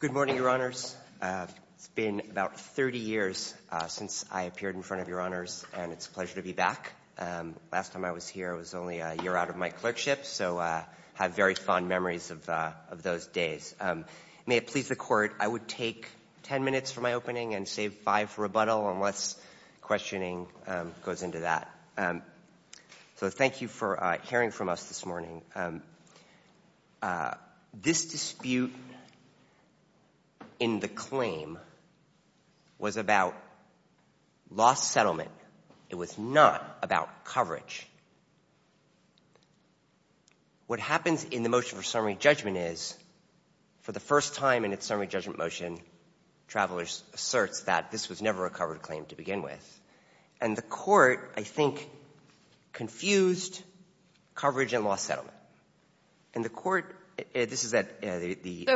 Good morning, Your Honors. It's been about 30 years since I appeared in front of Your Honors, and it's a pleasure to be back. Last time I was here, it was only a year out of my clerkship, so I have very fond memories of those days. May it please the Court, I would take 10 minutes for my opening and save five for rebuttal unless questioning goes into that. So thank you for hearing from us this morning. This dispute in the claim was about lost settlement. It was not about coverage. What happens in the motion for summary judgment is, for the first time in its summary judgment motion, Travelers asserts that this was never a covered claim to begin with. And the Court, I think, confused coverage and lost settlement. And the Court, this is at the...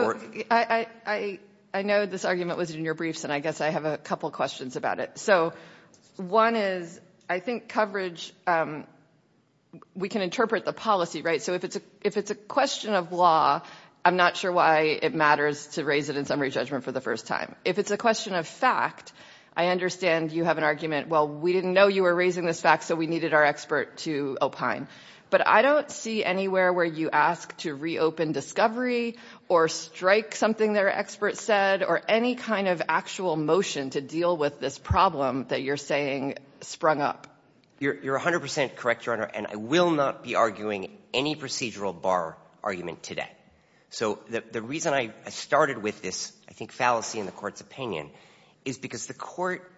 I know this argument was in your briefs, and I guess I have a couple questions about it. So one is, I think coverage, we can interpret the policy, right? So if it's a question of law, I'm not sure why it matters to raise it in summary judgment for the first time. If it's a question of fact, I understand you have an argument, well, we didn't know you were raising this fact, so we needed our expert to opine. But I don't see anywhere where you ask to reopen discovery or strike something their expert said or any kind of actual motion to deal with this problem that you're saying sprung up. You're 100 percent correct, Your Honor, and I will not be arguing any procedural bar argument today. So the reason I started with this, I think, fallacy in the Court's opinion is because the Court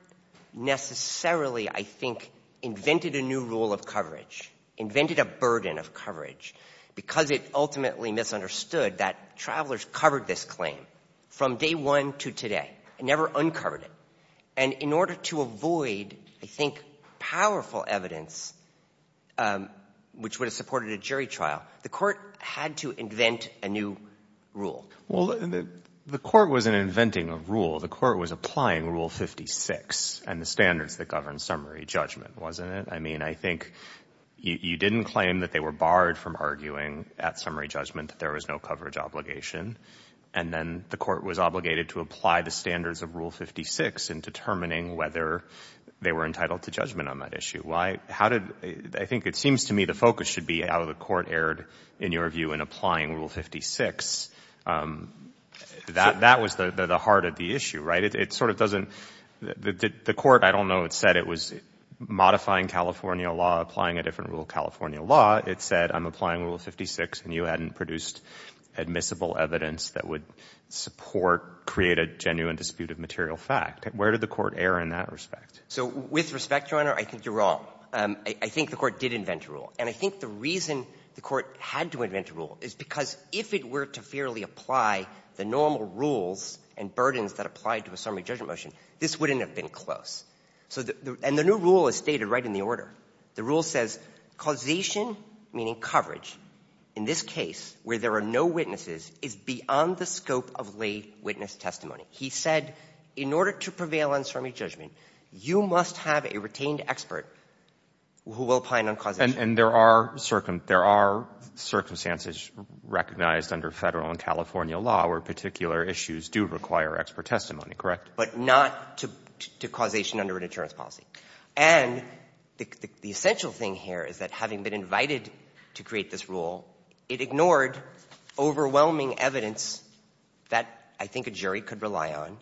necessarily, I think, invented a new rule of coverage, invented a burden of coverage, because it ultimately misunderstood that Travelers covered this claim from day one to today and never uncovered it. And in order to avoid, I think, powerful evidence, which would have supported a jury trial, the Court had to invent a new rule. Well, the Court wasn't inventing a rule. The Court was applying Rule 56 and the standards that govern summary judgment, wasn't it? I mean, I think you didn't claim that they were barred from arguing at summary judgment that there was no coverage obligation, and then the Court was obligated to apply the standards of Rule 56 in determining whether they were entitled to judgment on that issue. Why? How did — I think it seems to me the focus should be how the Court erred, in your view, in applying Rule 56. That was the heart of the issue, right? It sort of doesn't — the Court, I don't know, it said it was modifying California law, applying a different rule of California law. It said, I'm applying Rule 56, and you hadn't produced admissible evidence that would support — create a genuine dispute of material fact. Where did the Court err in that respect? So with respect, Your Honor, I think you're wrong. I think the Court did invent a rule. And I think the reason the Court had to invent a rule is because if it were to fairly apply the normal rules and burdens that apply to a summary judgment motion, this wouldn't have been close. So the — and the new rule is stated right in the order. The rule says, causation, meaning coverage, in this case where there are no witnesses, is beyond the scope of lay witness testimony. He said, in order to prevail on summary judgment, you must have a retained expert who will opine on causation. And there are circumstances recognized under Federal and California law where particular issues do require expert testimony, correct? But not to causation under an insurance policy. And the essential thing here is that having been invited to create this rule, it ignored overwhelming evidence that I think a jury could rely on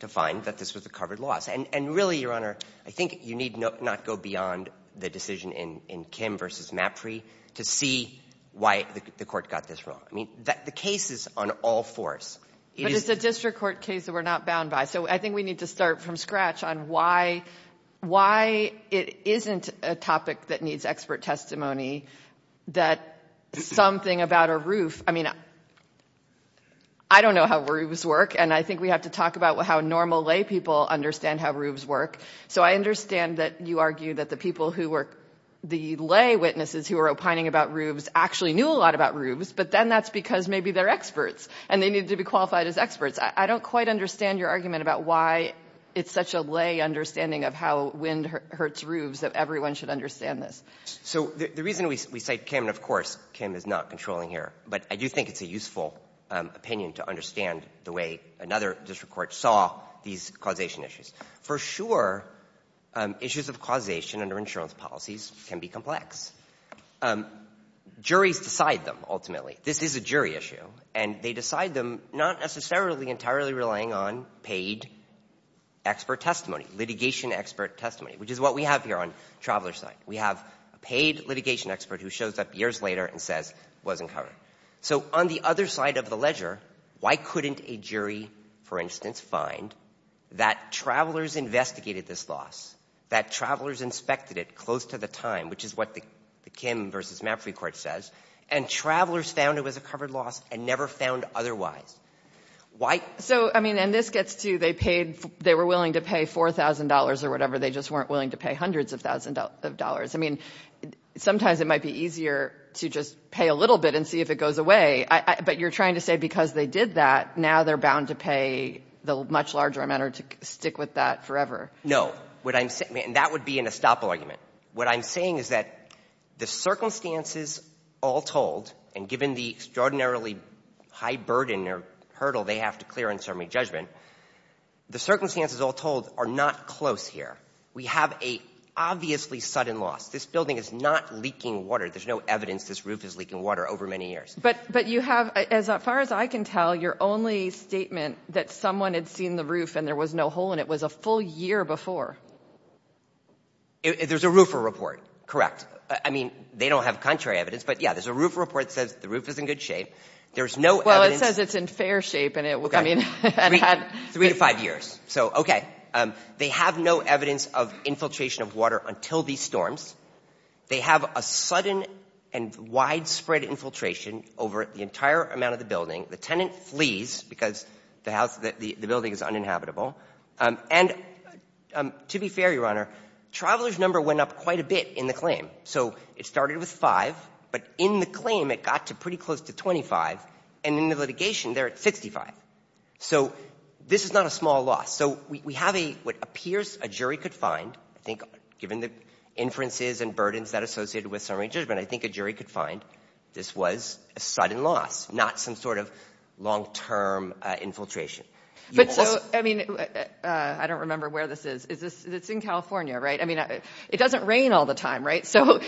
to find that this was a covered loss. And really, Your Honor, I think you need not go beyond the decision in Kim v. Mapri to see why the Court got this wrong. I mean, the case is on all fours. It is — But it's a district court case that we're not bound by. So I think we need to start from scratch on why it isn't a topic that needs expert testimony, that something about a roof — I mean, I don't know how roofs work. And I think we have to talk about how normal lay people understand how roofs work. So I understand that you argue that the people who were — the lay witnesses who were opining about roofs actually knew a lot about roofs, but then that's because maybe they're experts and they needed to be qualified as experts. I don't quite understand your argument about why it's such a lay understanding of how wind hurts roofs that everyone should understand this. So the reason we cite Kim — and, of course, Kim is not controlling here, but I do think it's a useful opinion to understand the way another district court saw these causation issues. For sure, issues of causation under insurance policies can be complex. Juries decide them, ultimately. This is a jury issue. And they decide them not necessarily entirely relying on paid expert testimony, litigation expert testimony, which is what we have here on Traveler's Night. We have a paid litigation expert who shows up years later and says it wasn't covered. So on the other side of the ledger, why couldn't a jury, for instance, find that Traveler's investigated this loss, that Traveler's inspected it close to the time, which is what the Kim v. Mapfre Court says, and Traveler's found it was a covered loss and never found otherwise? Why — So, I mean, and this gets to — they paid — they were willing to pay $4,000 or whatever. They just weren't willing to pay hundreds of thousands of dollars. I mean, sometimes it might be easier to just pay a little bit and see if it goes away. But you're trying to say because they did that, now they're bound to pay the much larger amount or to stick with that forever. What I'm — and that would be an estoppel argument. What I'm saying is that the circumstances all told, and given the extraordinarily high burden or hurdle they have to clear in certainly judgment, the circumstances all told are not close here. We have an obviously sudden loss. This building is not leaking water. There's no evidence this roof is leaking water over many years. But you have, as far as I can tell, your only statement that someone had seen the roof and there was no hole in it was a full year before. There's a roofer report. Correct. I mean, they don't have contrary evidence. But yeah, there's a roofer report that says the roof is in good shape. There's no evidence — Well, it says it's in fair shape, and it was — I mean — Three to five years. So, okay. They have no evidence of infiltration of water until these storms. They have a sudden and widespread infiltration over the entire amount of the building. The tenant flees because the house — the building is uninhabitable. And to be fair, Your Honor, Traveler's number went up quite a bit in the claim. So it started with five, but in the claim it got to pretty close to 25, and in the litigation they're at 65. So this is not a small loss. So we have a — what appears a jury could find, I think, given the inferences and burdens that are associated with summary judgment, I think a jury could find this was a sudden loss, not some sort of long-term infiltration. But so — I mean, I don't remember where this is. Is this — it's in California, right? I mean, it doesn't rain all the time, right? So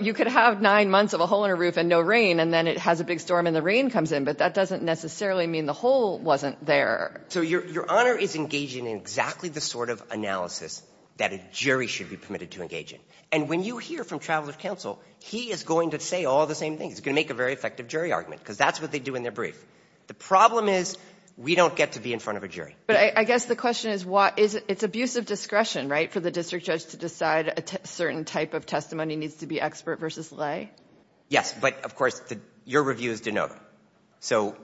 you could have nine months of a hole in a roof and no rain, and then it has a big storm and the rain comes in. But that doesn't necessarily mean the hole wasn't there. So Your Honor is engaging in exactly the sort of analysis that a jury should be permitted to engage in. And when you hear from Traveler's counsel, he is going to say all the same things. He's going to make a very effective jury argument, because that's what they do in their brief. The problem is we don't get to be in front of a jury. But I guess the question is what — it's abuse of discretion, right, for the district judge to decide a certain type of testimony needs to be expert versus lay? Yes. But, of course, your review is de novo. So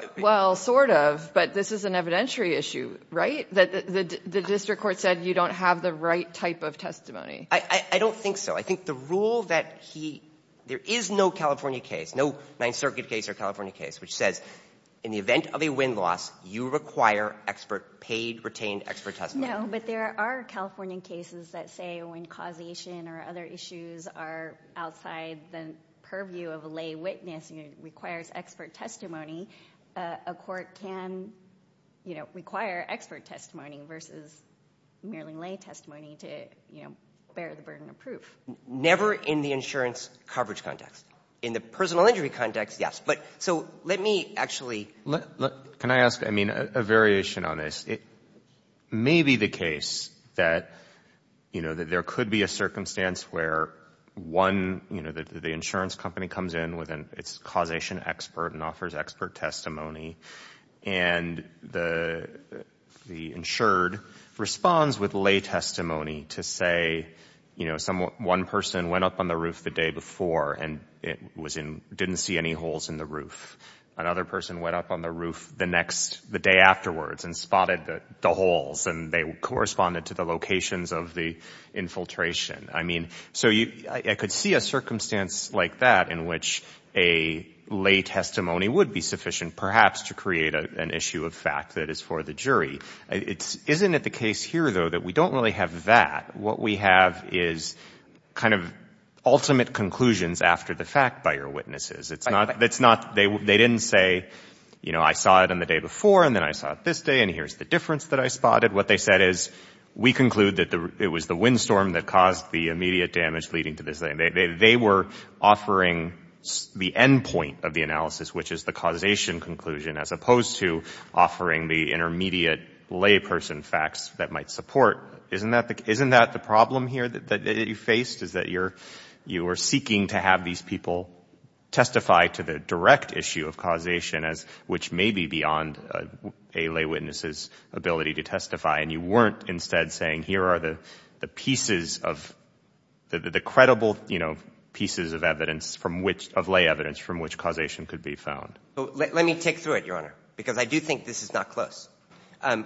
— Well, sort of. But this is an evidentiary issue, right, that the district court said you don't have the right type of testimony? I don't think so. I think the rule that he — there is no California case, no Ninth Circuit case or California case, which says in the event of a wind loss, you require expert — paid, retained expert testimony. No, but there are California cases that say when causation or other issues are outside the purview of a lay witness and it requires expert testimony, a court can, you know, require expert testimony versus merely lay testimony to, you know, bear the burden of proof. Never in the insurance coverage context. In the personal injury context, yes. But so let me actually — Can I ask, I mean, a variation on this? It may be the case that, you know, that there could be a circumstance where one, you know, the insurance company comes in with its causation expert and offers expert testimony and the insured responds with lay testimony to say, you know, one person went up on the roof the day before and it was in — didn't see any holes in the roof. Another person went up on the roof the next — the day afterwards and spotted the holes and they corresponded to the locations of the infiltration. I mean, so you — I could see a circumstance like that in which a lay testimony would be sufficient perhaps to create an issue of fact that is for the jury. Isn't it the case here, though, that we don't really have that? What we have is kind of ultimate conclusions after the fact by your witnesses. It's not — they didn't say, you know, I saw it on the day before and then I saw it this day and here's the difference that I spotted. What they said is, we conclude that it was the windstorm that caused the immediate damage leading to this — they were offering the end point of the analysis, which is the causation conclusion, as opposed to offering the intermediate layperson facts that might support. Isn't that the — isn't that the problem here that you faced, is that you're — you are allowing people to testify to the direct issue of causation as — which may be beyond a lay witness's ability to testify and you weren't instead saying, here are the pieces of — the credible, you know, pieces of evidence from which — of lay evidence from which causation could be found? Let me take through it, Your Honor, because I do think this is not close.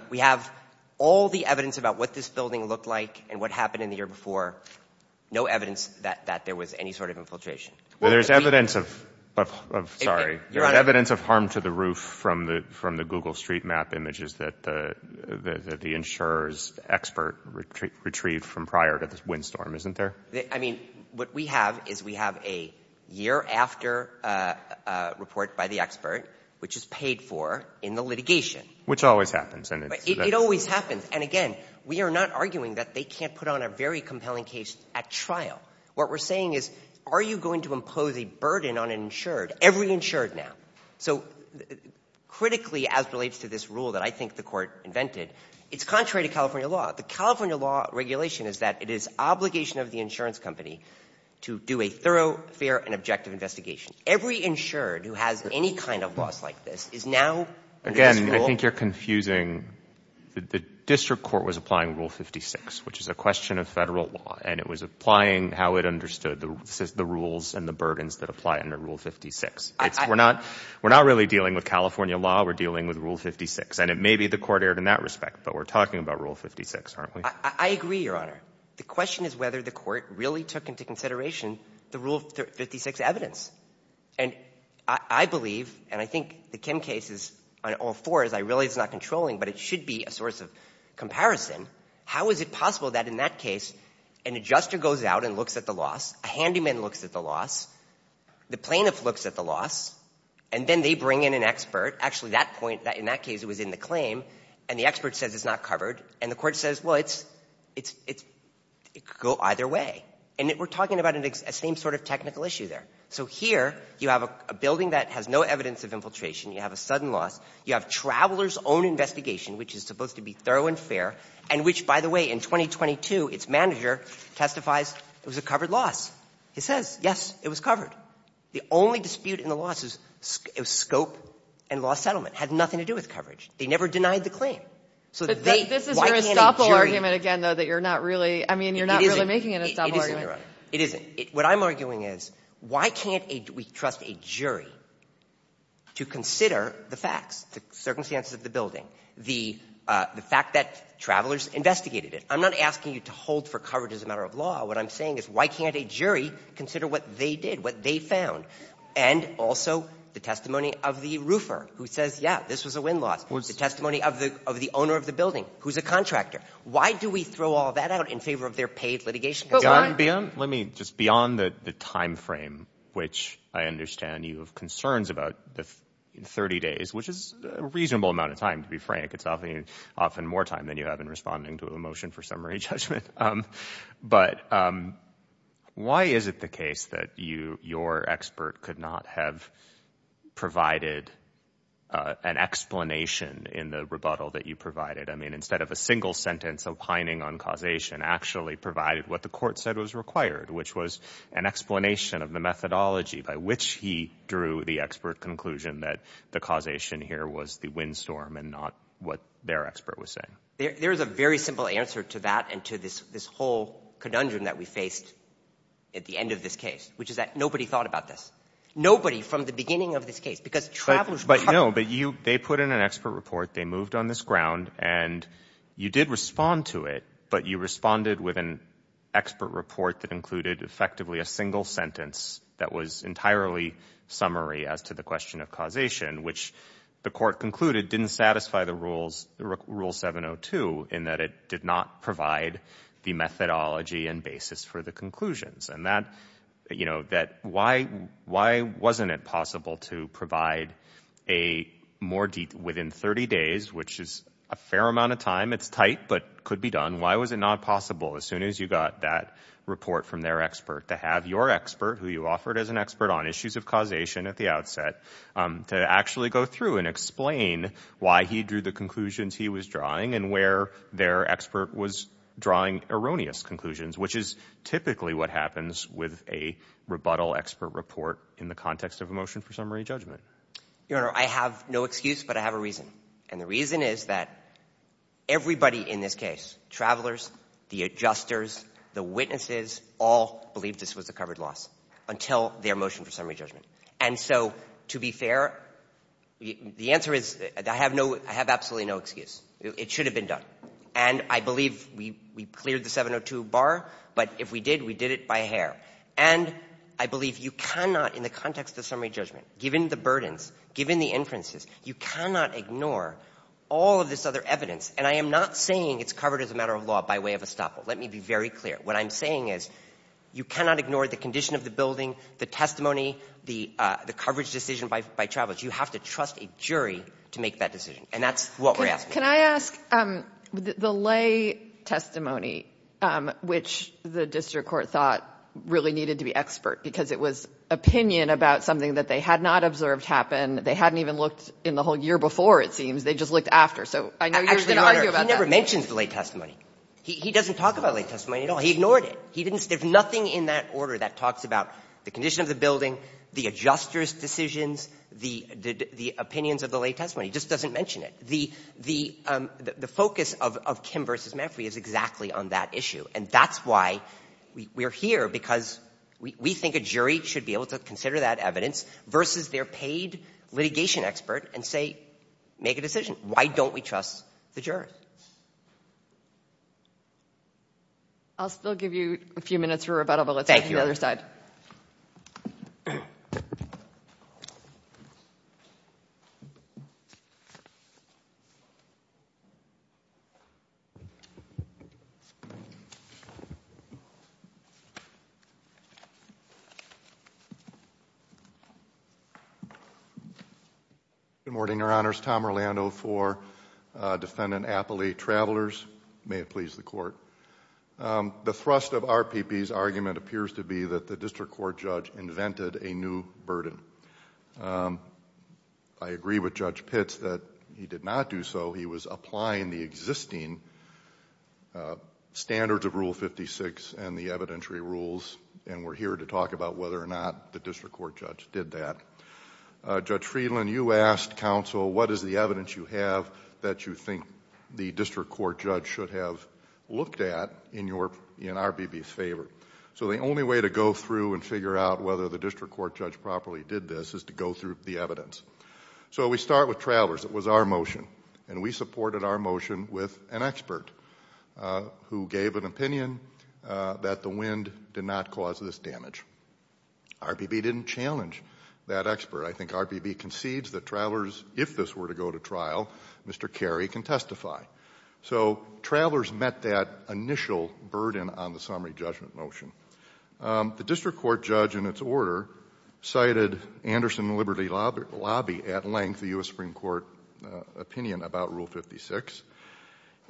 We have all the evidence about what this building looked like and what happened in the year Well, there's evidence of — sorry — there's evidence of harm to the roof from the Google street map images that the insurer's expert retrieved from prior to this windstorm, isn't there? I mean, what we have is we have a year after report by the expert, which is paid for in the litigation. Which always happens. It always happens. And again, we are not arguing that they can't put on a very compelling case at trial. What we're saying is, are you going to impose a burden on an insured — every insured now? So critically, as relates to this rule that I think the court invented, it's contrary to California law. The California law regulation is that it is obligation of the insurance company to do a thorough, fair, and objective investigation. Every insured who has any kind of loss like this is now — Again, I think you're confusing — the district court was applying Rule 56, which is a question of federal law. And it was applying how it understood the rules and the burdens that apply under Rule 56. It's — we're not — we're not really dealing with California law. We're dealing with Rule 56. And it may be the court erred in that respect, but we're talking about Rule 56, aren't we? I agree, Your Honor. The question is whether the court really took into consideration the Rule 56 evidence. And I believe, and I think the Kim case is — on all fours, I realize it's not controlling, but it should be a source of comparison. How is it possible that in that case, an adjuster goes out and looks at the loss, a handyman looks at the loss, the plaintiff looks at the loss, and then they bring in an expert — actually, that point, in that case, it was in the claim — and the expert says it's not covered. And the court says, well, it's — it could go either way. And we're talking about a same sort of technical issue there. So here, you have a building that has no evidence of infiltration. You have a sudden loss. You have Traveler's own investigation, which is supposed to be thorough and fair, and which, by the way, in 2022, its manager testifies it was a covered loss. He says, yes, it was covered. The only dispute in the loss was scope and law settlement. Had nothing to do with coverage. They never denied the claim. So they — But this is your estoppel argument again, though, that you're not really — I mean, you're not really making an estoppel argument. It isn't, Your Honor. It isn't. What I'm arguing is, why can't we trust a jury to consider the facts, the circumstances of the building, the fact that Traveler's investigated it? I'm not asking you to hold for coverage as a matter of law. What I'm saying is, why can't a jury consider what they did, what they found, and also the testimony of the roofer, who says, yeah, this was a win-loss, the testimony of the owner of the building, who's a contractor? Why do we throw all that out in favor of their paid litigation? Let me — just beyond the timeframe, which I understand you have concerns about, 30 days, which is a reasonable amount of time, to be frank. It's often more time than you have in responding to a motion for summary judgment. But why is it the case that your expert could not have provided an explanation in the rebuttal that you provided? I mean, instead of a single sentence opining on causation, actually provided what the court said was required, which was an explanation of the methodology by which he drew the expert conclusion that the causation here was the windstorm and not what their expert was saying. There is a very simple answer to that and to this whole conundrum that we faced at the end of this case, which is that nobody thought about this. Nobody from the beginning of this case. Because Traveler's — But no, but you — they put in an expert report, they moved on this ground, and you did respond to it, but you responded with an expert report that included effectively a single sentence that was entirely summary as to the question of causation, which the court concluded didn't satisfy the rules, Rule 702, in that it did not provide the methodology and basis for the conclusions. And that — you know, that why wasn't it possible to provide a more — within 30 days, which is a fair amount of time, it's tight, but could be done, why was it not possible as soon as you got that report from their expert to have your expert, who you offered as an expert on issues of causation at the outset, to actually go through and explain why he drew the conclusions he was drawing and where their expert was drawing erroneous conclusions, which is typically what happens with a rebuttal expert report in the context of a motion for summary judgment? Your Honor, I have no excuse, but I have a reason. And the reason is that everybody in this case, travelers, the adjusters, the witnesses, all believed this was a covered loss until their motion for summary judgment. And so, to be fair, the answer is I have no — I have absolutely no excuse. It should have been done. And I believe we cleared the 702 bar, but if we did, we did it by hair. And I believe you cannot, in the context of summary judgment, given the burdens, given the inferences, you cannot ignore all of this other evidence. And I am not saying it's covered as a matter of law by way of estoppel. Let me be very clear. What I'm saying is you cannot ignore the condition of the building, the testimony, the coverage decision by travelers. You have to trust a jury to make that decision. And that's what we're asking. Can I ask, the lay testimony, which the district court thought really needed to be expert, because it was opinion about something that they had not observed happen. They hadn't even looked in the whole year before, it seems. They just looked after. So I know you're going to argue about that. He never mentions the lay testimony. He doesn't talk about lay testimony at all. He ignored it. He didn't — there's nothing in that order that talks about the condition of the building, the adjusters' decisions, the opinions of the lay testimony. He just doesn't mention it. The focus of Kim v. Maffrey is exactly on that issue. And that's why we're here, because we think a jury should be able to consider that evidence versus their paid litigation expert and say, make a decision. Why don't we trust the jurors? I'll still give you a few minutes for rebuttal, but let's go to the other side. Thank you. Good morning, Your Honors. Tom Orlando for Defendant Appley Travelers. May it please the Court. The thrust of RPP's argument appears to be that the district court judge invented a new burden. I agree with Judge Pitts that he did not do so. He was applying the existing standards of Rule 56 and the evidentiary rules, and we're here to talk about whether or not the district court judge did that. Judge Friedland, you asked counsel, what is the evidence you have that you think the district court judge should have looked at in RPP's favor? So the only way to go through and figure out whether the district court judge properly did this is to go through the evidence. So we start with travelers. It was our motion, and we supported our motion with an expert who gave an opinion that the wind did not cause this damage. RPP didn't challenge that expert. I think RPP concedes that travelers, if this were to go to trial, Mr. Carey can testify. So travelers met that initial burden on the summary judgment motion. The district court judge, in its order, cited Anderson and Liberty Lobby at length, the U.S. Supreme Court opinion about Rule 56,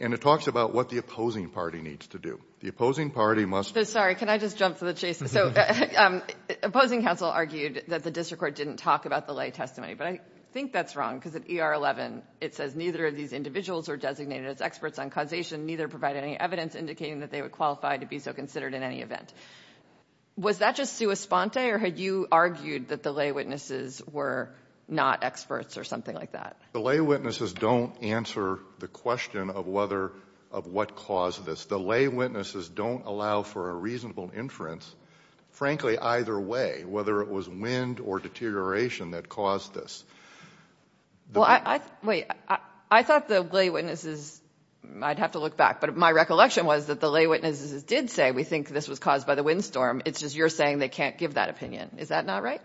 and it talks about what the opposing party needs to do. The opposing party must – Sorry. Can I just jump to the chase? So opposing counsel argued that the district court didn't talk about the lay testimony, but I think that's wrong, because at ER11 it says neither of these individuals are designated as experts on causation, neither provided any evidence indicating that they would qualify to be so considered in any event. Was that just sua sponte, or had you argued that the lay witnesses were not experts or something like that? The lay witnesses don't answer the question of whether – of what caused this. The lay witnesses don't allow for a reasonable inference, frankly, either way, whether it was wind or deterioration that caused this. Well, I – wait. I thought the lay witnesses – I'd have to look back, but my recollection was that the lay witnesses did say, we think this was caused by the windstorm. It's just you're saying they can't give that opinion. Is that not right?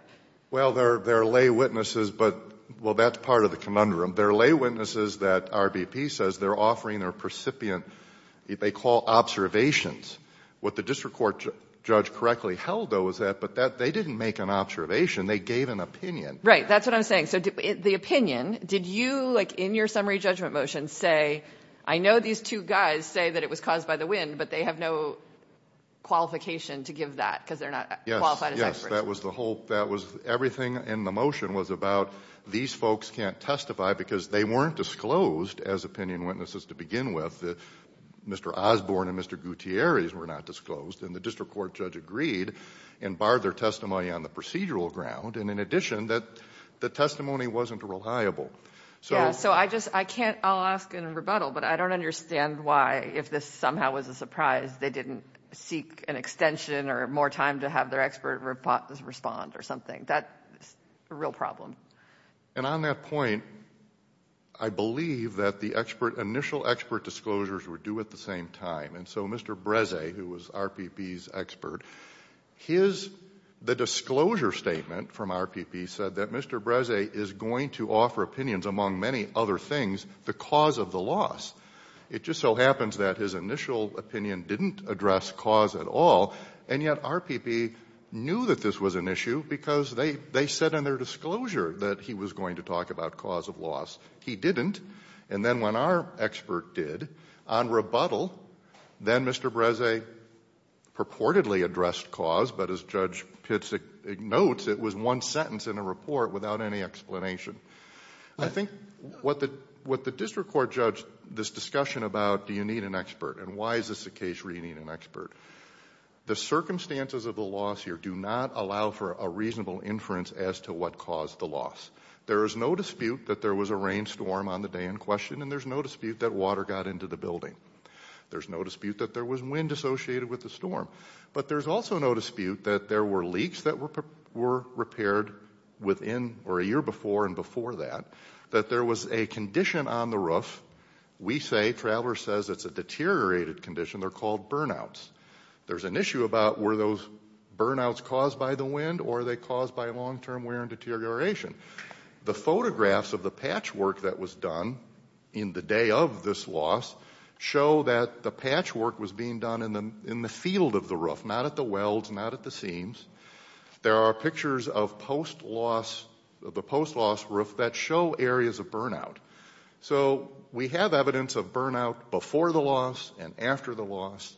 Well, they're lay witnesses, but – well, that's part of the conundrum. They're lay witnesses that RBP says they're offering their precipient – they call observations. What the district court judge correctly held, though, was that they didn't make an observation. They gave an opinion. Right. That's what I'm saying. So the opinion – did you, like, in your summary judgment motion, say, I know these two guys say that it was caused by the wind, but they have no qualification to give that because they're not qualified as experts? Yes. That was the whole – that was – everything in the motion was about these folks can't testify because they weren't disclosed as opinion witnesses to begin with. Mr. Osborne and Mr. Gutierrez were not disclosed, and the district court judge agreed and barred their testimony on the procedural ground, and in addition, that the testimony wasn't reliable. Yeah. So I just – I can't – I'll ask in rebuttal, but I don't understand why, if this somehow was a surprise, they didn't seek an extension or more time to have their expert respond or something. That's a real problem. And on that point, I believe that the expert – initial expert disclosures were due at the same time, and so Mr. Breze, who was RPP's expert, his – the disclosure statement from RPP said that Mr. Breze is going to offer opinions, among many other things, the cause of the loss. It just so happens that his initial opinion didn't address cause at all, and yet RPP knew that this was an issue because they said in their disclosure that he was going to talk about cause of loss. He didn't, and then when our expert did, on rebuttal, then Mr. Breze purportedly addressed cause, but as Judge Pitts notes, it was one sentence in a report without any explanation. I think what the District Court judged this discussion about, do you need an expert, and why is this a case where you need an expert? The circumstances of the loss here do not allow for a reasonable inference as to what caused the loss. There is no dispute that there was a rainstorm on the day in question, and there's no dispute that water got into the building. There's no dispute that there was wind associated with the storm, but there's also no dispute that there were leaks that were repaired within, or a year before and before that, that there was a condition on the roof. We say, Traveler says it's a deteriorated condition, they're called burnouts. There's an issue about were those burnouts caused by the wind, or are they caused by long-term wear and deterioration? The photographs of the patchwork that was done in the day of this loss show that the patchwork was being done in the field of the roof, not at the welds, not at the seams. There are pictures of the post-loss roof that show areas of burnout. So we have evidence of burnout before the loss and after the loss,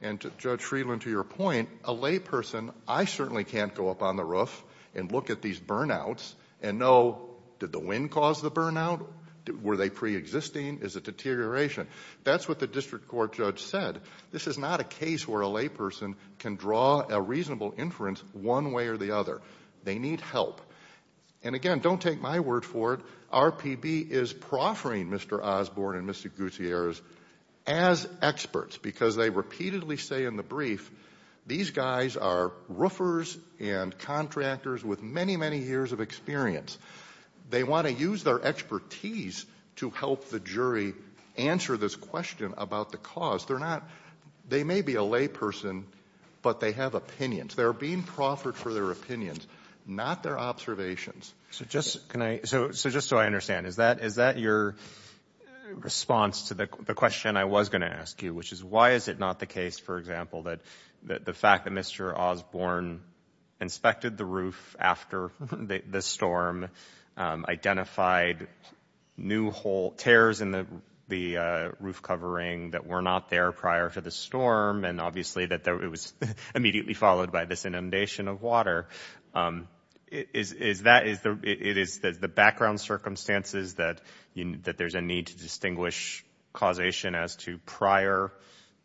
and Judge Friedland, to your point, a layperson, I certainly can't go up on the roof and look at these burnouts and know, did the wind cause the burnout? Were they pre-existing? Is it deterioration? That's what the district court judge said. This is not a case where a layperson can draw a reasonable inference one way or the other. They need help. And again, don't take my word for it, RPB is proffering Mr. Osborne and Mr. Gutierrez as experts because they repeatedly say in the brief, these guys are roofers and contractors with many, many years of experience. They want to use their expertise to help the jury answer this question about the cause. They may be a layperson, but they have opinions. They're being proffered for their opinions, not their observations. So just so I understand, is that your response to the question I was going to ask you, which is why is it not the case, for example, that the fact that Mr. Osborne inspected the roof after the storm, identified new hole, tears in the roof covering that were not there prior to the storm, and obviously that it was immediately followed by this inundation of water. Is that, it is the background circumstances that there's a need to distinguish causation as to prior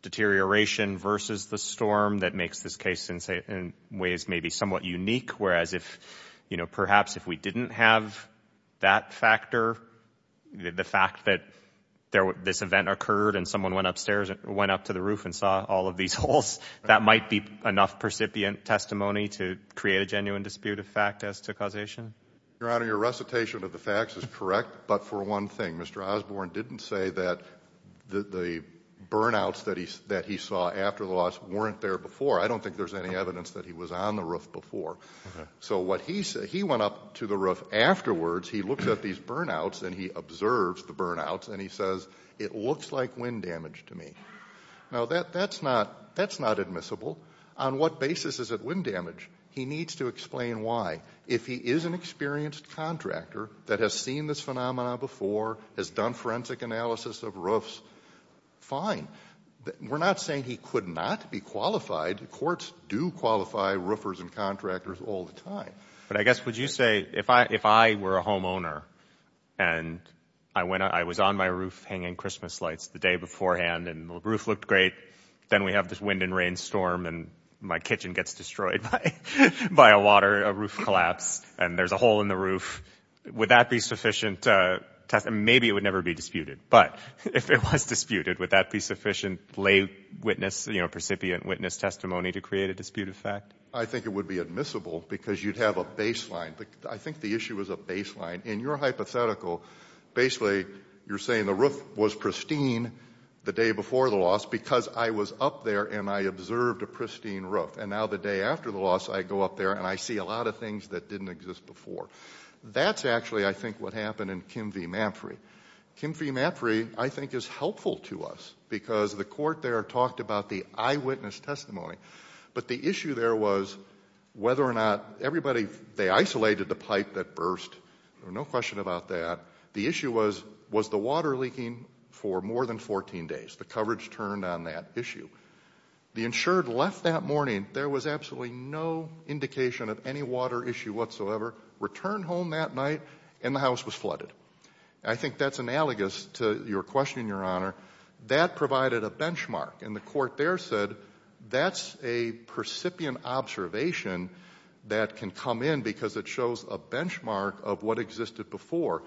deterioration versus the storm that makes this case in ways maybe somewhat unique, whereas if, you know, perhaps if we didn't have that factor, the fact that this event occurred and someone went upstairs, went up to the roof and saw all of these holes, that might be enough percipient testimony to create a genuine dispute of fact as to causation? Your Honor, your recitation of the facts is correct, but for one thing, Mr. Osborne didn't say that the burnouts that he saw after the loss weren't there before. I don't think there's any evidence that he was on the roof before. So what he said, he went up to the roof afterwards, he looked at these burnouts and he observed the burnouts and he says, it looks like wind damage to me. Now that's not admissible. On what basis is it wind damage? He needs to explain why. If he is an experienced contractor that has seen this phenomenon before, has done forensic analysis of roofs, fine. We're not saying he could not be qualified. Courts do qualify roofers and contractors all the time. But I guess would you say if I were a homeowner and I was on my roof hanging Christmas lights the day beforehand and the roof looked great, then we have this wind and rain storm and my kitchen gets destroyed by a water, a roof collapse and there's a hole in the roof, would that be sufficient, maybe it would never be disputed, but if it was disputed, would that be sufficient lay witness, you know, recipient witness testimony to create a dispute effect? I think it would be admissible because you'd have a baseline. I think the issue is a baseline. In your hypothetical, basically you're saying the roof was pristine the day before the loss because I was up there and I observed a pristine roof and now the day after the loss I go up there and I see a lot of things that didn't exist before. That's actually, I think, what happened in Kim V. Mapfrey. Kim V. Mapfrey, I think, is helpful to us because the court there talked about the eyewitness testimony. But the issue there was whether or not everybody, they isolated the pipe that burst, no question about that. The issue was, was the water leaking for more than 14 days? The coverage turned on that issue. The insured left that morning, there was absolutely no indication of any water issue whatsoever returned home that night and the house was flooded. I think that's analogous to your question, your honor. That provided a benchmark and the court there said that's a percipient observation that can come in because it shows a benchmark of what existed before.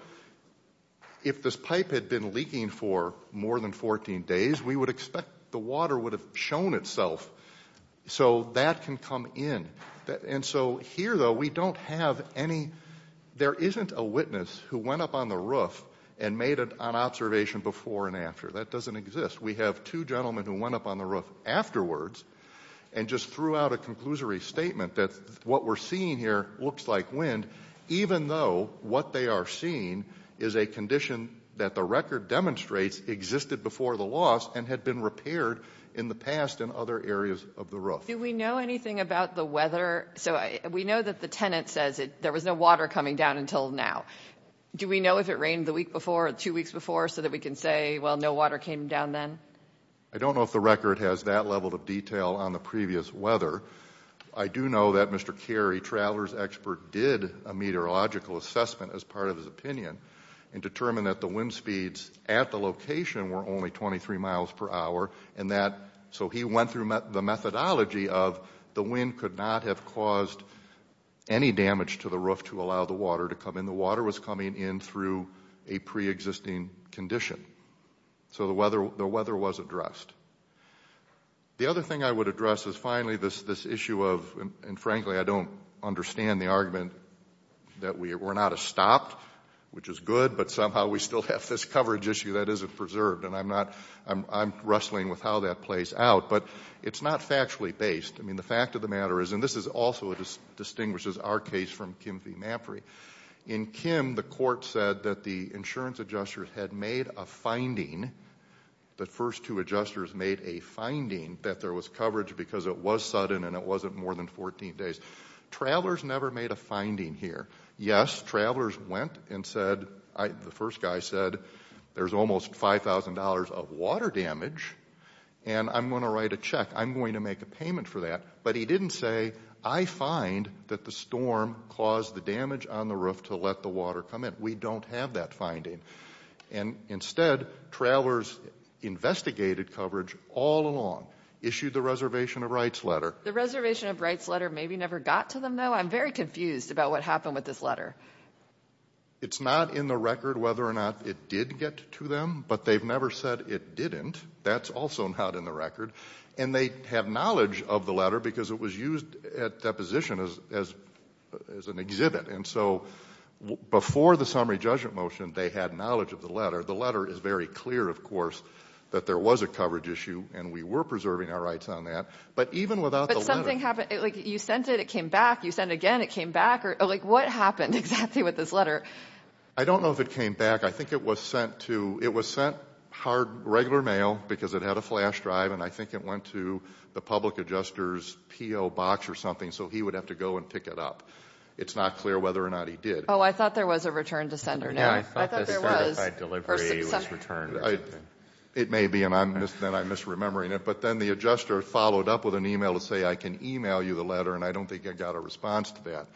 If this pipe had been leaking for more than 14 days, we would expect the water would have shown itself. So that can come in. And so here, though, we don't have any, there isn't a witness who went up on the roof and made an observation before and after. That doesn't exist. We have two gentlemen who went up on the roof afterwards and just threw out a conclusory statement that what we're seeing here looks like wind, even though what they are seeing is a condition that the record demonstrates existed before the loss and had been repaired in the past in other areas of the roof. Do we know anything about the weather? So we know that the tenant says there was no water coming down until now. Do we know if it rained the week before or two weeks before so that we can say, well, no water came down then? I don't know if the record has that level of detail on the previous weather. I do know that Mr. Carey, traveler's expert, did a meteorological assessment as part of his opinion and determined that the wind speeds at the location were only 23 miles per hour and that, so he went through the methodology of the wind could not have caused any damage to the roof to allow the water to come in. The water was coming in through a preexisting condition. So the weather was addressed. The other thing I would address is finally this issue of, and frankly I don't understand the argument that we're not a stopped, which is good, but somehow we still have this coverage issue that isn't preserved and I'm not, I'm wrestling with how that plays out, but it's not factually based. I mean, the fact of the matter is, and this also distinguishes our case from Kim v. Mapry, in Kim the court said that the insurance adjusters had made a finding, the first two adjusters made a finding that there was coverage because it was sudden and it wasn't more than 14 days. Travelers never made a finding here. Yes, travelers went and said, the first guy said, there's almost $5,000 of water damage and I'm going to write a check. I'm going to make a payment for that. But he didn't say, I find that the storm caused the damage on the roof to let the water come in. We don't have that finding. And instead, travelers investigated coverage all along, issued the reservation of rights letter. The reservation of rights letter maybe never got to them though. I'm very confused about what happened with this letter. It's not in the record whether or not it did get to them, but they've never said it didn't. That's also not in the record. And they have knowledge of the letter because it was used at deposition as, as, as an exhibit. And so before the summary judgment motion, they had knowledge of the letter. The letter is very clear, of course, that there was a coverage issue and we were preserving our rights on that. But even without the letter. Did anything happen? Like you sent it, it came back. You send again, it came back or like, what happened exactly with this letter? I don't know if it came back. I think it was sent to, it was sent hard, regular mail because it had a flash drive and I think it went to the public adjusters PO box or something. So he would have to go and pick it up. It's not clear whether or not he did. Oh, I thought there was a return to sender now. I thought there was. Yeah, I thought the sender by delivery was returned or something. It may be and I'm, then I'm misremembering it, but then the adjuster followed up with an email to say, I can email you the letter and I don't think I got a response to that.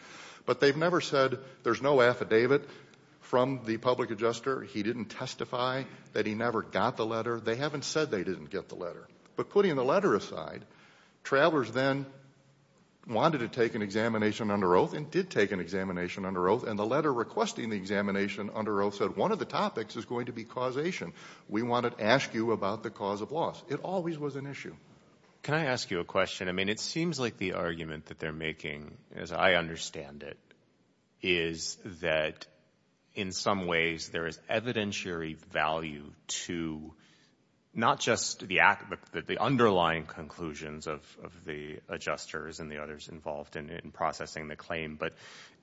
But they've never said there's no affidavit from the public adjuster. He didn't testify that he never got the letter. They haven't said they didn't get the letter. But putting the letter aside, travelers then wanted to take an examination under oath and did take an examination under oath and the letter requesting the examination under oath said one of the topics is going to be causation. We want to ask you about the cause of loss. It always was an issue. Can I ask you a question? I mean, it seems like the argument that they're making, as I understand it, is that in some ways there is evidentiary value to not just the underlying conclusions of the adjusters and the others involved in processing the claim, but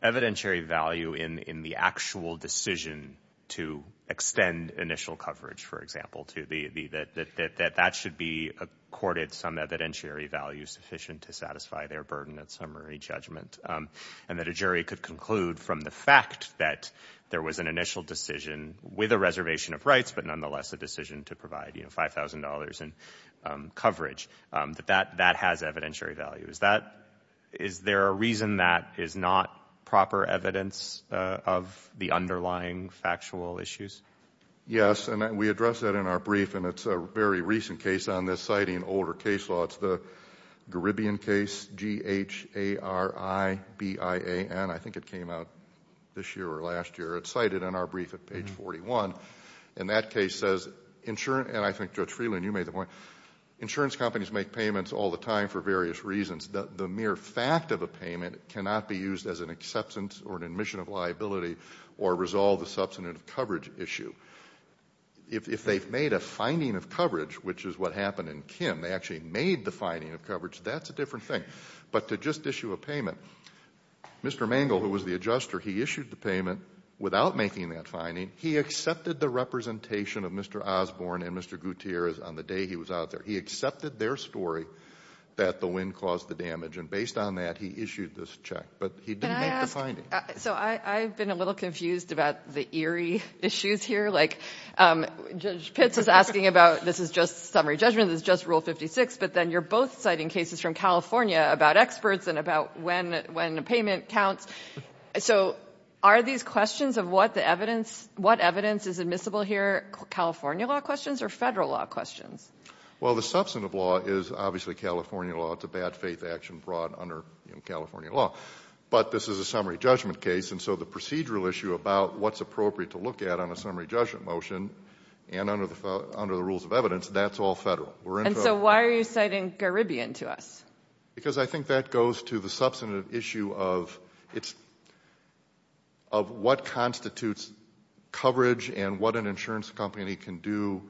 evidentiary value in the actual decision to extend initial coverage, for example, that that should be accorded some evidentiary value sufficient to satisfy their burden at summary judgment and that a jury could conclude from the fact that there was an initial decision with a reservation of rights but nonetheless a decision to provide $5,000 in coverage, that that has evidentiary value. Is there a reason that is not proper evidence of the underlying factual issues? Yes, and we address that in our brief and it's a very recent case on this, citing older case law. It's the Caribbean case, G-H-A-R-I-B-I-A-N. I think it came out this year or last year. It's cited in our brief at page 41. And that case says, and I think Judge Freeland, you made the point, insurance companies make payments all the time for various reasons. The mere fact of a payment cannot be used as an acceptance or an admission of liability or resolve the substantive coverage issue. If they've made a finding of coverage, which is what happened in Kim, they actually made the finding of coverage, that's a different thing. But to just issue a payment, Mr. Mangle, who was the adjuster, he issued the payment without making that finding. He accepted the representation of Mr. Osborne and Mr. Gutierrez on the day he was out there. He accepted their story that the wind caused the damage. And based on that, he issued this check. But he didn't make the finding. So I've been a little confused about the eerie issues here, like Judge Pitts is asking about this is just summary judgment, this is just Rule 56, but then you're both citing cases from California about experts and about when a payment counts. So are these questions of what evidence is admissible here California law questions or federal law questions? Well, the substantive law is obviously California law. It's a bad faith action brought under California law. But this is a summary judgment case, and so the procedural issue about what's appropriate to look at on a summary judgment motion and under the rules of evidence, that's all federal. And so why are you citing Garibbean to us? Because I think that goes to the substantive issue of what constitutes coverage and what an insurance company can do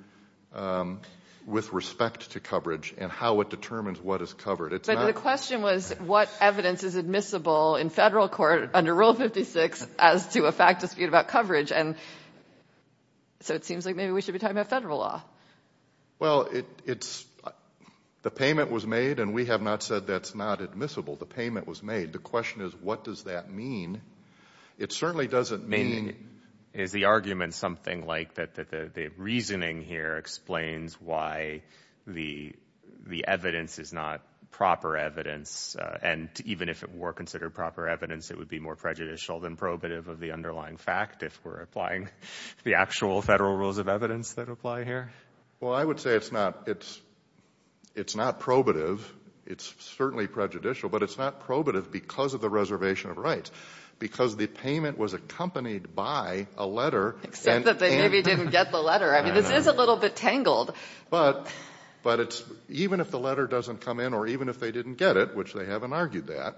with respect to coverage and how it determines what is covered. But the question was what evidence is admissible in federal court under Rule 56 as to a fact dispute about coverage, and so it seems like maybe we should be talking about federal law. Well, the payment was made, and we have not said that's not admissible. The payment was made. The question is what does that mean? It certainly doesn't mean. Is the argument something like that the reasoning here explains why the evidence is not proper evidence and even if it were considered proper evidence, it would be more prejudicial than probative of the underlying fact if we're applying the actual federal rules of evidence that apply here? Well, I would say it's not. It's not probative. It's certainly prejudicial, but it's not probative because of the reservation of rights. Because the payment was accompanied by a letter. Except that they maybe didn't get the letter. I mean, this is a little bit tangled. But even if the letter doesn't come in or even if they didn't get it, which they haven't argued that,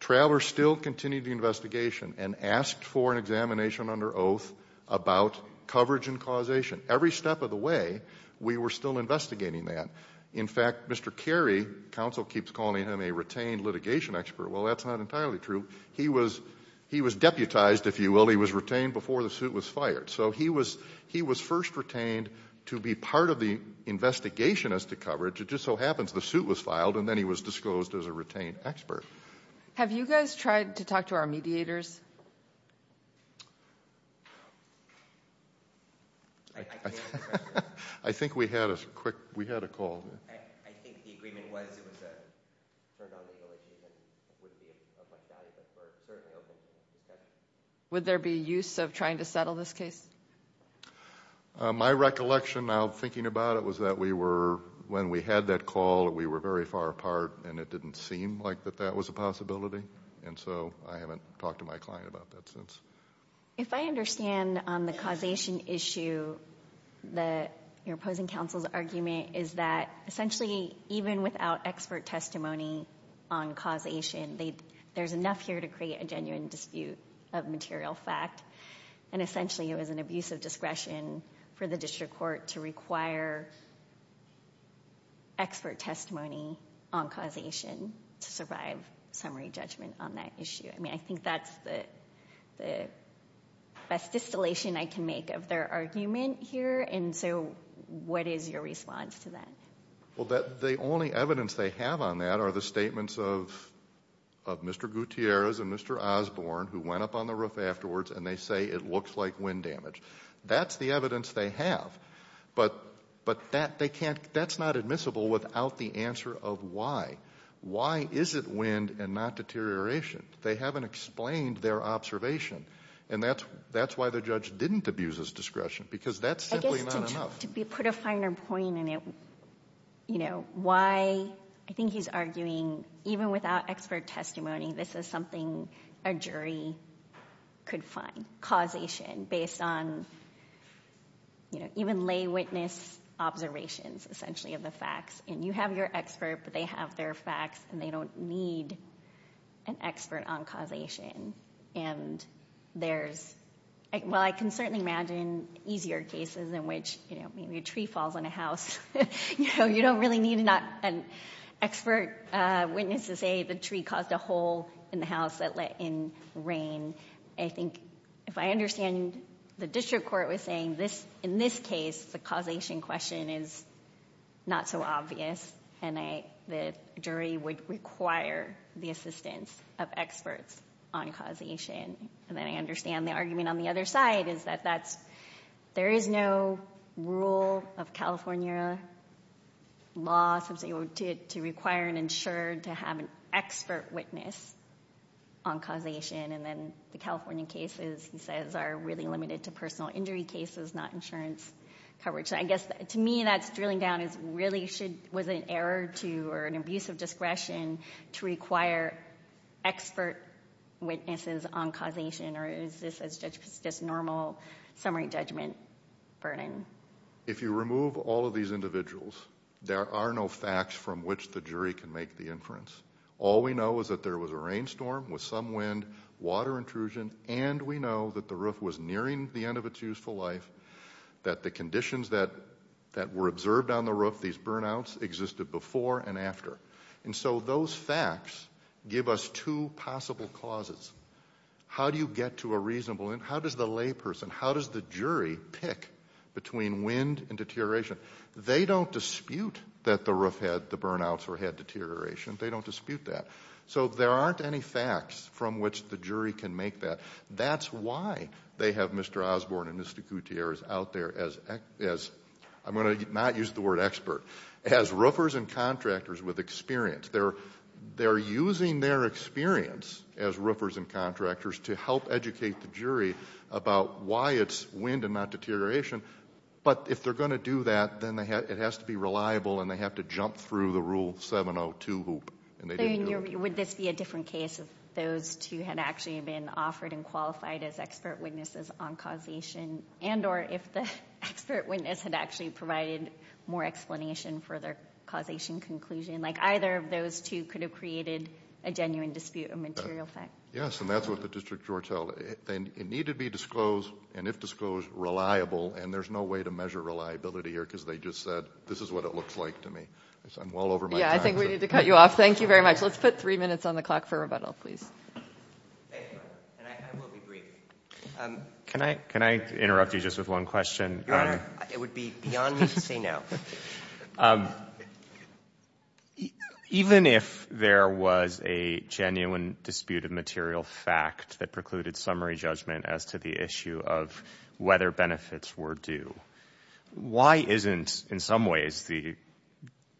Travers still continued the investigation and asked for an examination under oath about coverage and causation. Every step of the way, we were still investigating that. In fact, Mr. Carey, counsel keeps calling him a retained litigation expert. Well, that's not entirely true. He was deputized, if you will. He was retained before the suit was fired. So he was first retained to be part of the investigation as to coverage. It just so happens the suit was filed and then he was disclosed as a retained expert. Have you guys tried to talk to our mediators? I think we had a quick, we had a call. Would there be use of trying to settle this case? My recollection now thinking about it was that we were, when we had that call, we were very far apart and it didn't seem like that that was a possibility. So I haven't talked to my client about that since. If I understand on the causation issue, your opposing counsel's argument is that essentially even without expert testimony on causation, there's enough here to create a genuine dispute of material fact and essentially it was an abuse of discretion for the district court to require expert testimony on causation to survive summary judgment on that issue. I mean, I think that's the best distillation I can make of their argument here and so what is your response to that? Well, the only evidence they have on that are the statements of Mr. Gutierrez and Mr. Osborne who went up on the roof afterwards and they say it looks like wind damage. That's the evidence they have, but that's not admissible without the answer of why. Why is it wind and not deterioration? They haven't explained their observation and that's why the judge didn't abuse his discretion because that's simply not enough. I guess to put a finer point in it, you know, why I think he's arguing even without expert testimony, this is something a jury could find, causation, based on even lay witness observations essentially of the facts and you have your expert, but they have their facts and they don't need an expert on causation and there's, well, I can certainly imagine easier cases in which, you know, maybe a tree falls on a house, you know, you don't really need an expert witness to say the tree caused a hole in the house that let in rain. I think if I understand, the district court was saying in this case, the causation question is not so obvious and the jury would require the assistance of experts on causation and then I understand the argument on the other side is that there is no rule of California law to require an insured to have an expert witness on causation and then the California cases he says are really limited to personal injury cases, not insurance coverage. I guess to me that's drilling down is really should, was it an error to or an abuse of discretion to require expert witnesses on causation or is this just normal summary judgment burden? If you remove all of these individuals, there are no facts from which the jury can make the inference. All we know is that there was a rainstorm with some wind, water intrusion and we know that the roof was nearing the end of its useful life, that the conditions that were observed on the roof, these burnouts existed before and after. And so those facts give us two possible causes. How do you get to a reasonable, how does the layperson, how does the jury pick between wind and deterioration? They don't dispute that the roof had the burnouts or had deterioration, they don't dispute that. So there aren't any facts from which the jury can make that. That's why they have Mr. Osborne and Mr. Gutierrez out there as, I'm going to not use the word expert, as roofers and contractors with experience. They're using their experience as roofers and contractors to help educate the jury about why it's wind and not deterioration. But if they're going to do that, then it has to be reliable and they have to jump through the rule 702 hoop and they didn't do it. Would this be a different case if those two had actually been offered and qualified as expert witnesses on causation and or if the expert witness had actually provided more explanation for their causation conclusion, like either of those two could have created a genuine dispute, a material fact. Yes, and that's what the district courts held. It needed to be disclosed and if disclosed, reliable and there's no way to measure reliability here because they just said, this is what it looks like to me. I'm well over my time. Yeah, I think we need to cut you off. Thank you very much. Let's put three minutes on the clock for rebuttal, please. I will be brief. Can I interrupt you just with one question? Your Honor, it would be beyond me to say no. Even if there was a genuine dispute of material fact that precluded summary judgment as to the issue of whether benefits were due, why isn't in some ways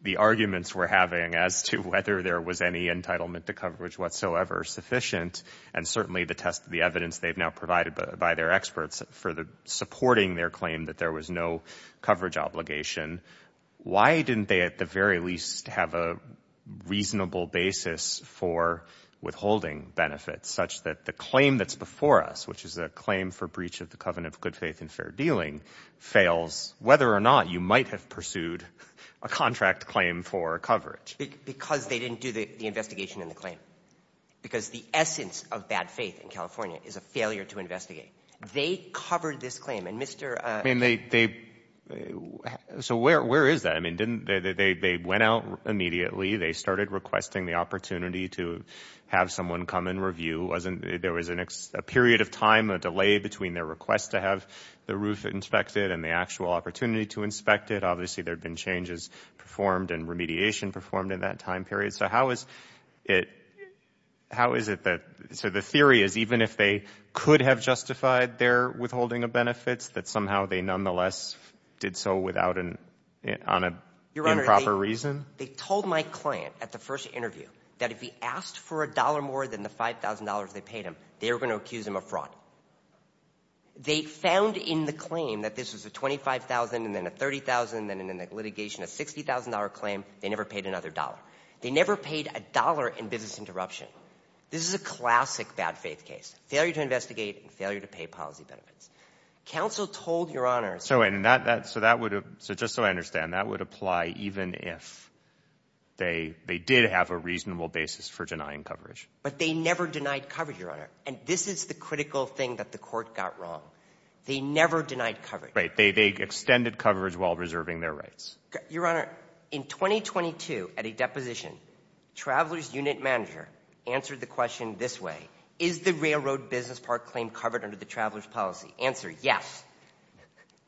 the arguments we're having as to whether there was any entitlement to coverage whatsoever sufficient and certainly the test of the evidence they've now provided by their experts for the supporting their claim that there was no coverage obligation, why didn't they at the very least have a reasonable basis for withholding benefits such that the claim that's before us, which is a claim for breach of the covenant of good faith and fair dealing, fails whether or not you might have pursued a contract claim for coverage? Because they didn't do the investigation in the claim. Because the essence of bad faith in California is a failure to investigate. They covered this claim. And Mr. — I mean, they — so where is that? I mean, didn't — they went out immediately. They started requesting the opportunity to have someone come and review. There was a period of time, a delay, between their request to have the roof inspected and the actual opportunity to inspect it. Obviously, there had been changes performed and remediation performed in that time period. So how is it — how is it that — so the theory is even if they could have justified their withholding of benefits, that somehow they nonetheless did so without an — on an improper reason? Your Honor, they told my client at the first interview that if he asked for a dollar more than the $5,000 they paid him, they were going to accuse him of fraud. They found in the claim that this was a $25,000 and then a $30,000 and then in the litigation a $60,000 claim, they never paid another dollar. They never paid a dollar in business interruption. This is a classic bad faith case. Failure to investigate and failure to pay policy benefits. Counsel told Your Honor — So, and that — so that would have — so just so I understand, that would apply even if they — they did have a reasonable basis for denying coverage. But they never denied coverage, Your Honor. And this is the critical thing that the court got wrong. They never denied coverage. Right. They — they extended coverage while reserving their rights. Your Honor, in 2022, at a deposition, Traveler's Unit Manager answered the question this way. Is the railroad business park claim covered under the Traveler's policy? Answer, yes.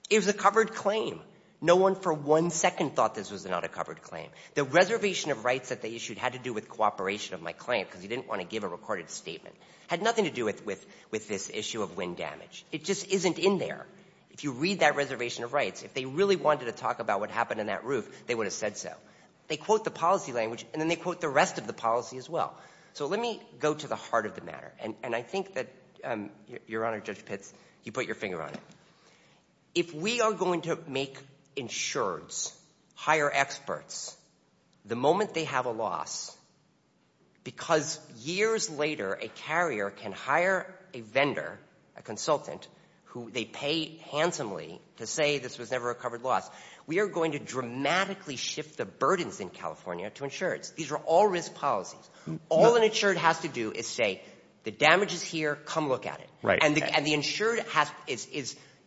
It was a covered claim. No one for one second thought this was not a covered claim. The reservation of rights that they issued had to do with cooperation of my client because he didn't want to give a recorded statement. Had nothing to do with — with this issue of wind damage. It just isn't in there. If you read that reservation of rights, if they really wanted to talk about what happened in that roof, they would have said so. They quote the policy language and then they quote the rest of the policy as well. So let me go to the heart of the matter. And I think that, Your Honor, Judge Pitts, you put your finger on it. If we are going to make insureds hire experts the moment they have a loss, because years later a carrier can hire a vendor, a consultant, who they pay handsomely to say this was never a covered loss, we are going to dramatically shift the burdens in California to insureds. These are all risk policies. All an insured has to do is say the damage is here, come look at it. And the insured has — is —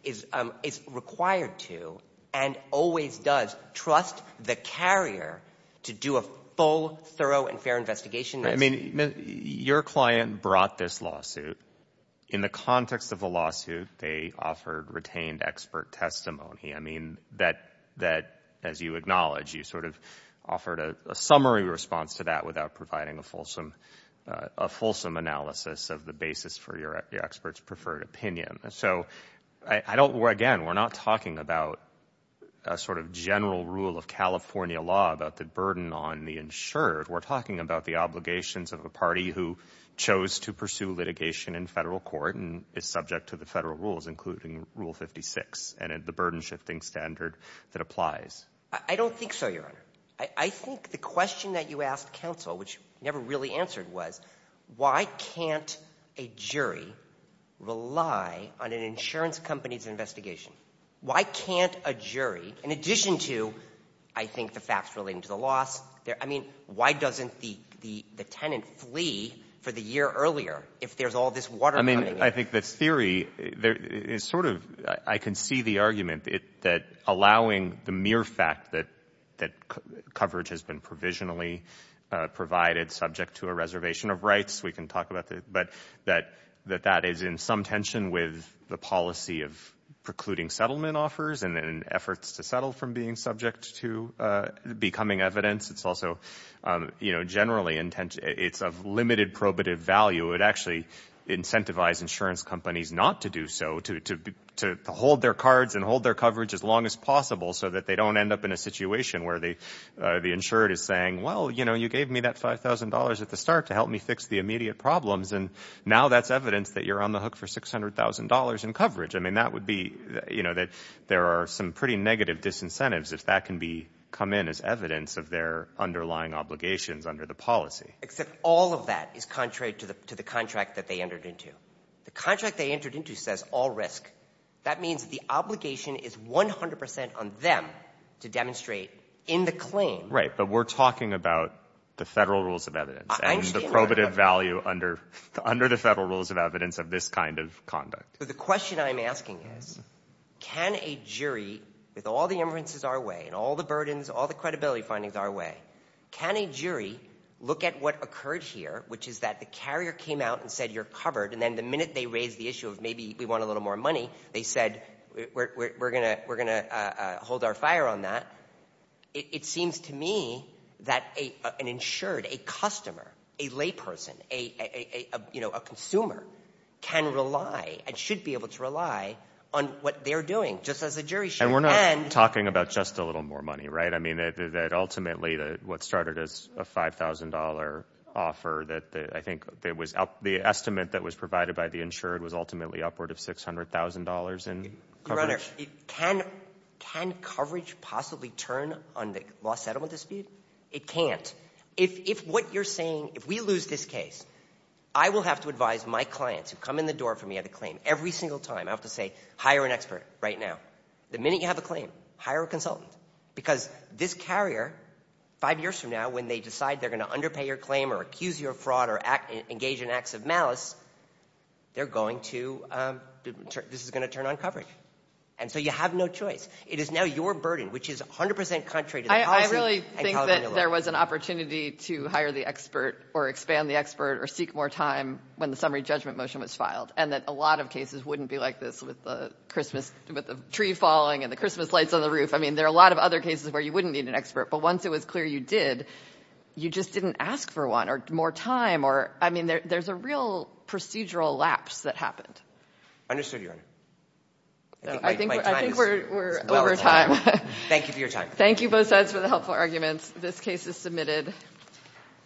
is — is required to and always does trust the carrier to do a full, thorough, and fair investigation. I mean, your client brought this lawsuit. In the context of the lawsuit, they offered retained expert testimony. I mean, that — that, as you acknowledge, you sort of offered a summary response to that without providing a fulsome — a fulsome analysis of the basis for your expert's preferred opinion. So I don't — again, we're not talking about a sort of general rule of California law about the burden on the insured. We're talking about the obligations of a party who chose to pursue litigation in federal court and is subject to the federal rules, including Rule 56 and the burden-shifting standard that applies. I don't think so, Your Honor. I think the question that you asked counsel, which you never really answered, was why can't a jury rely on an insurance company's investigation? Why can't a jury, in addition to, I think, the facts relating to the loss — I mean, why doesn't the — the tenant flee for the year earlier if there's all this water I mean, I think the theory is sort of — I can see the argument that allowing the mere fact that coverage has been provisionally provided subject to a reservation of rights, we can talk about that, but that that is in some tension with the policy of precluding settlement offers and efforts to settle from being subject to becoming evidence. It's also, you know, generally — it's of limited probative value. It would actually incentivize insurance companies not to do so, to hold their cards and hold their coverage as long as possible so that they don't end up in a situation where the insurer is saying, well, you know, you gave me that $5,000 at the start to help me fix the immediate problems, and now that's evidence that you're on the hook for $600,000 in coverage. I mean, that would be — you know, that there are some pretty negative disincentives if that can be — come in as evidence of their underlying obligations under the policy. Except all of that is contrary to the contract that they entered into. The contract they entered into says all risk. That means the obligation is 100 percent on them to demonstrate in the claim — Right. But we're talking about the Federal rules of evidence and the probative value under the Federal rules of evidence of this kind of conduct. The question I'm asking is, can a jury, with all the inferences our way and all the findings our way, can a jury look at what occurred here, which is that the carrier came out and said, you're covered, and then the minute they raised the issue of maybe we want a little more money, they said, we're going to hold our fire on that. It seems to me that an insured, a customer, a layperson, you know, a consumer can rely and should be able to rely on what they're doing, just as a jury should. And we're not talking about just a little more money, right? I mean, that ultimately what started as a $5,000 offer, that I think the estimate that was provided by the insured was ultimately upward of $600,000 in coverage? Your Honor, can coverage possibly turn on the law settlement dispute? It can't. If what you're saying, if we lose this case, I will have to advise my clients who come in the door for me at a claim every single time, I'll have to say, hire an expert right now. The minute you have a claim, hire a consultant. Because this carrier, five years from now, when they decide they're going to underpay your claim or accuse you of fraud or engage in acts of malice, they're going to, this is going to turn on coverage. And so you have no choice. It is now your burden, which is 100% contrary to the policy and California law. I really think that there was an opportunity to hire the expert or expand the expert or seek more time when the summary judgment motion was filed, and that a lot of cases wouldn't be like this with the Christmas, with the tree falling and the Christmas lights on the roof. I mean, there are a lot of other cases where you wouldn't need an expert, but once it was clear you did, you just didn't ask for one or more time or, I mean, there's a real procedural lapse that happened. Understood, Your Honor. I think we're over time. Thank you for your time. Thank you both sides for the helpful arguments. This case is submitted.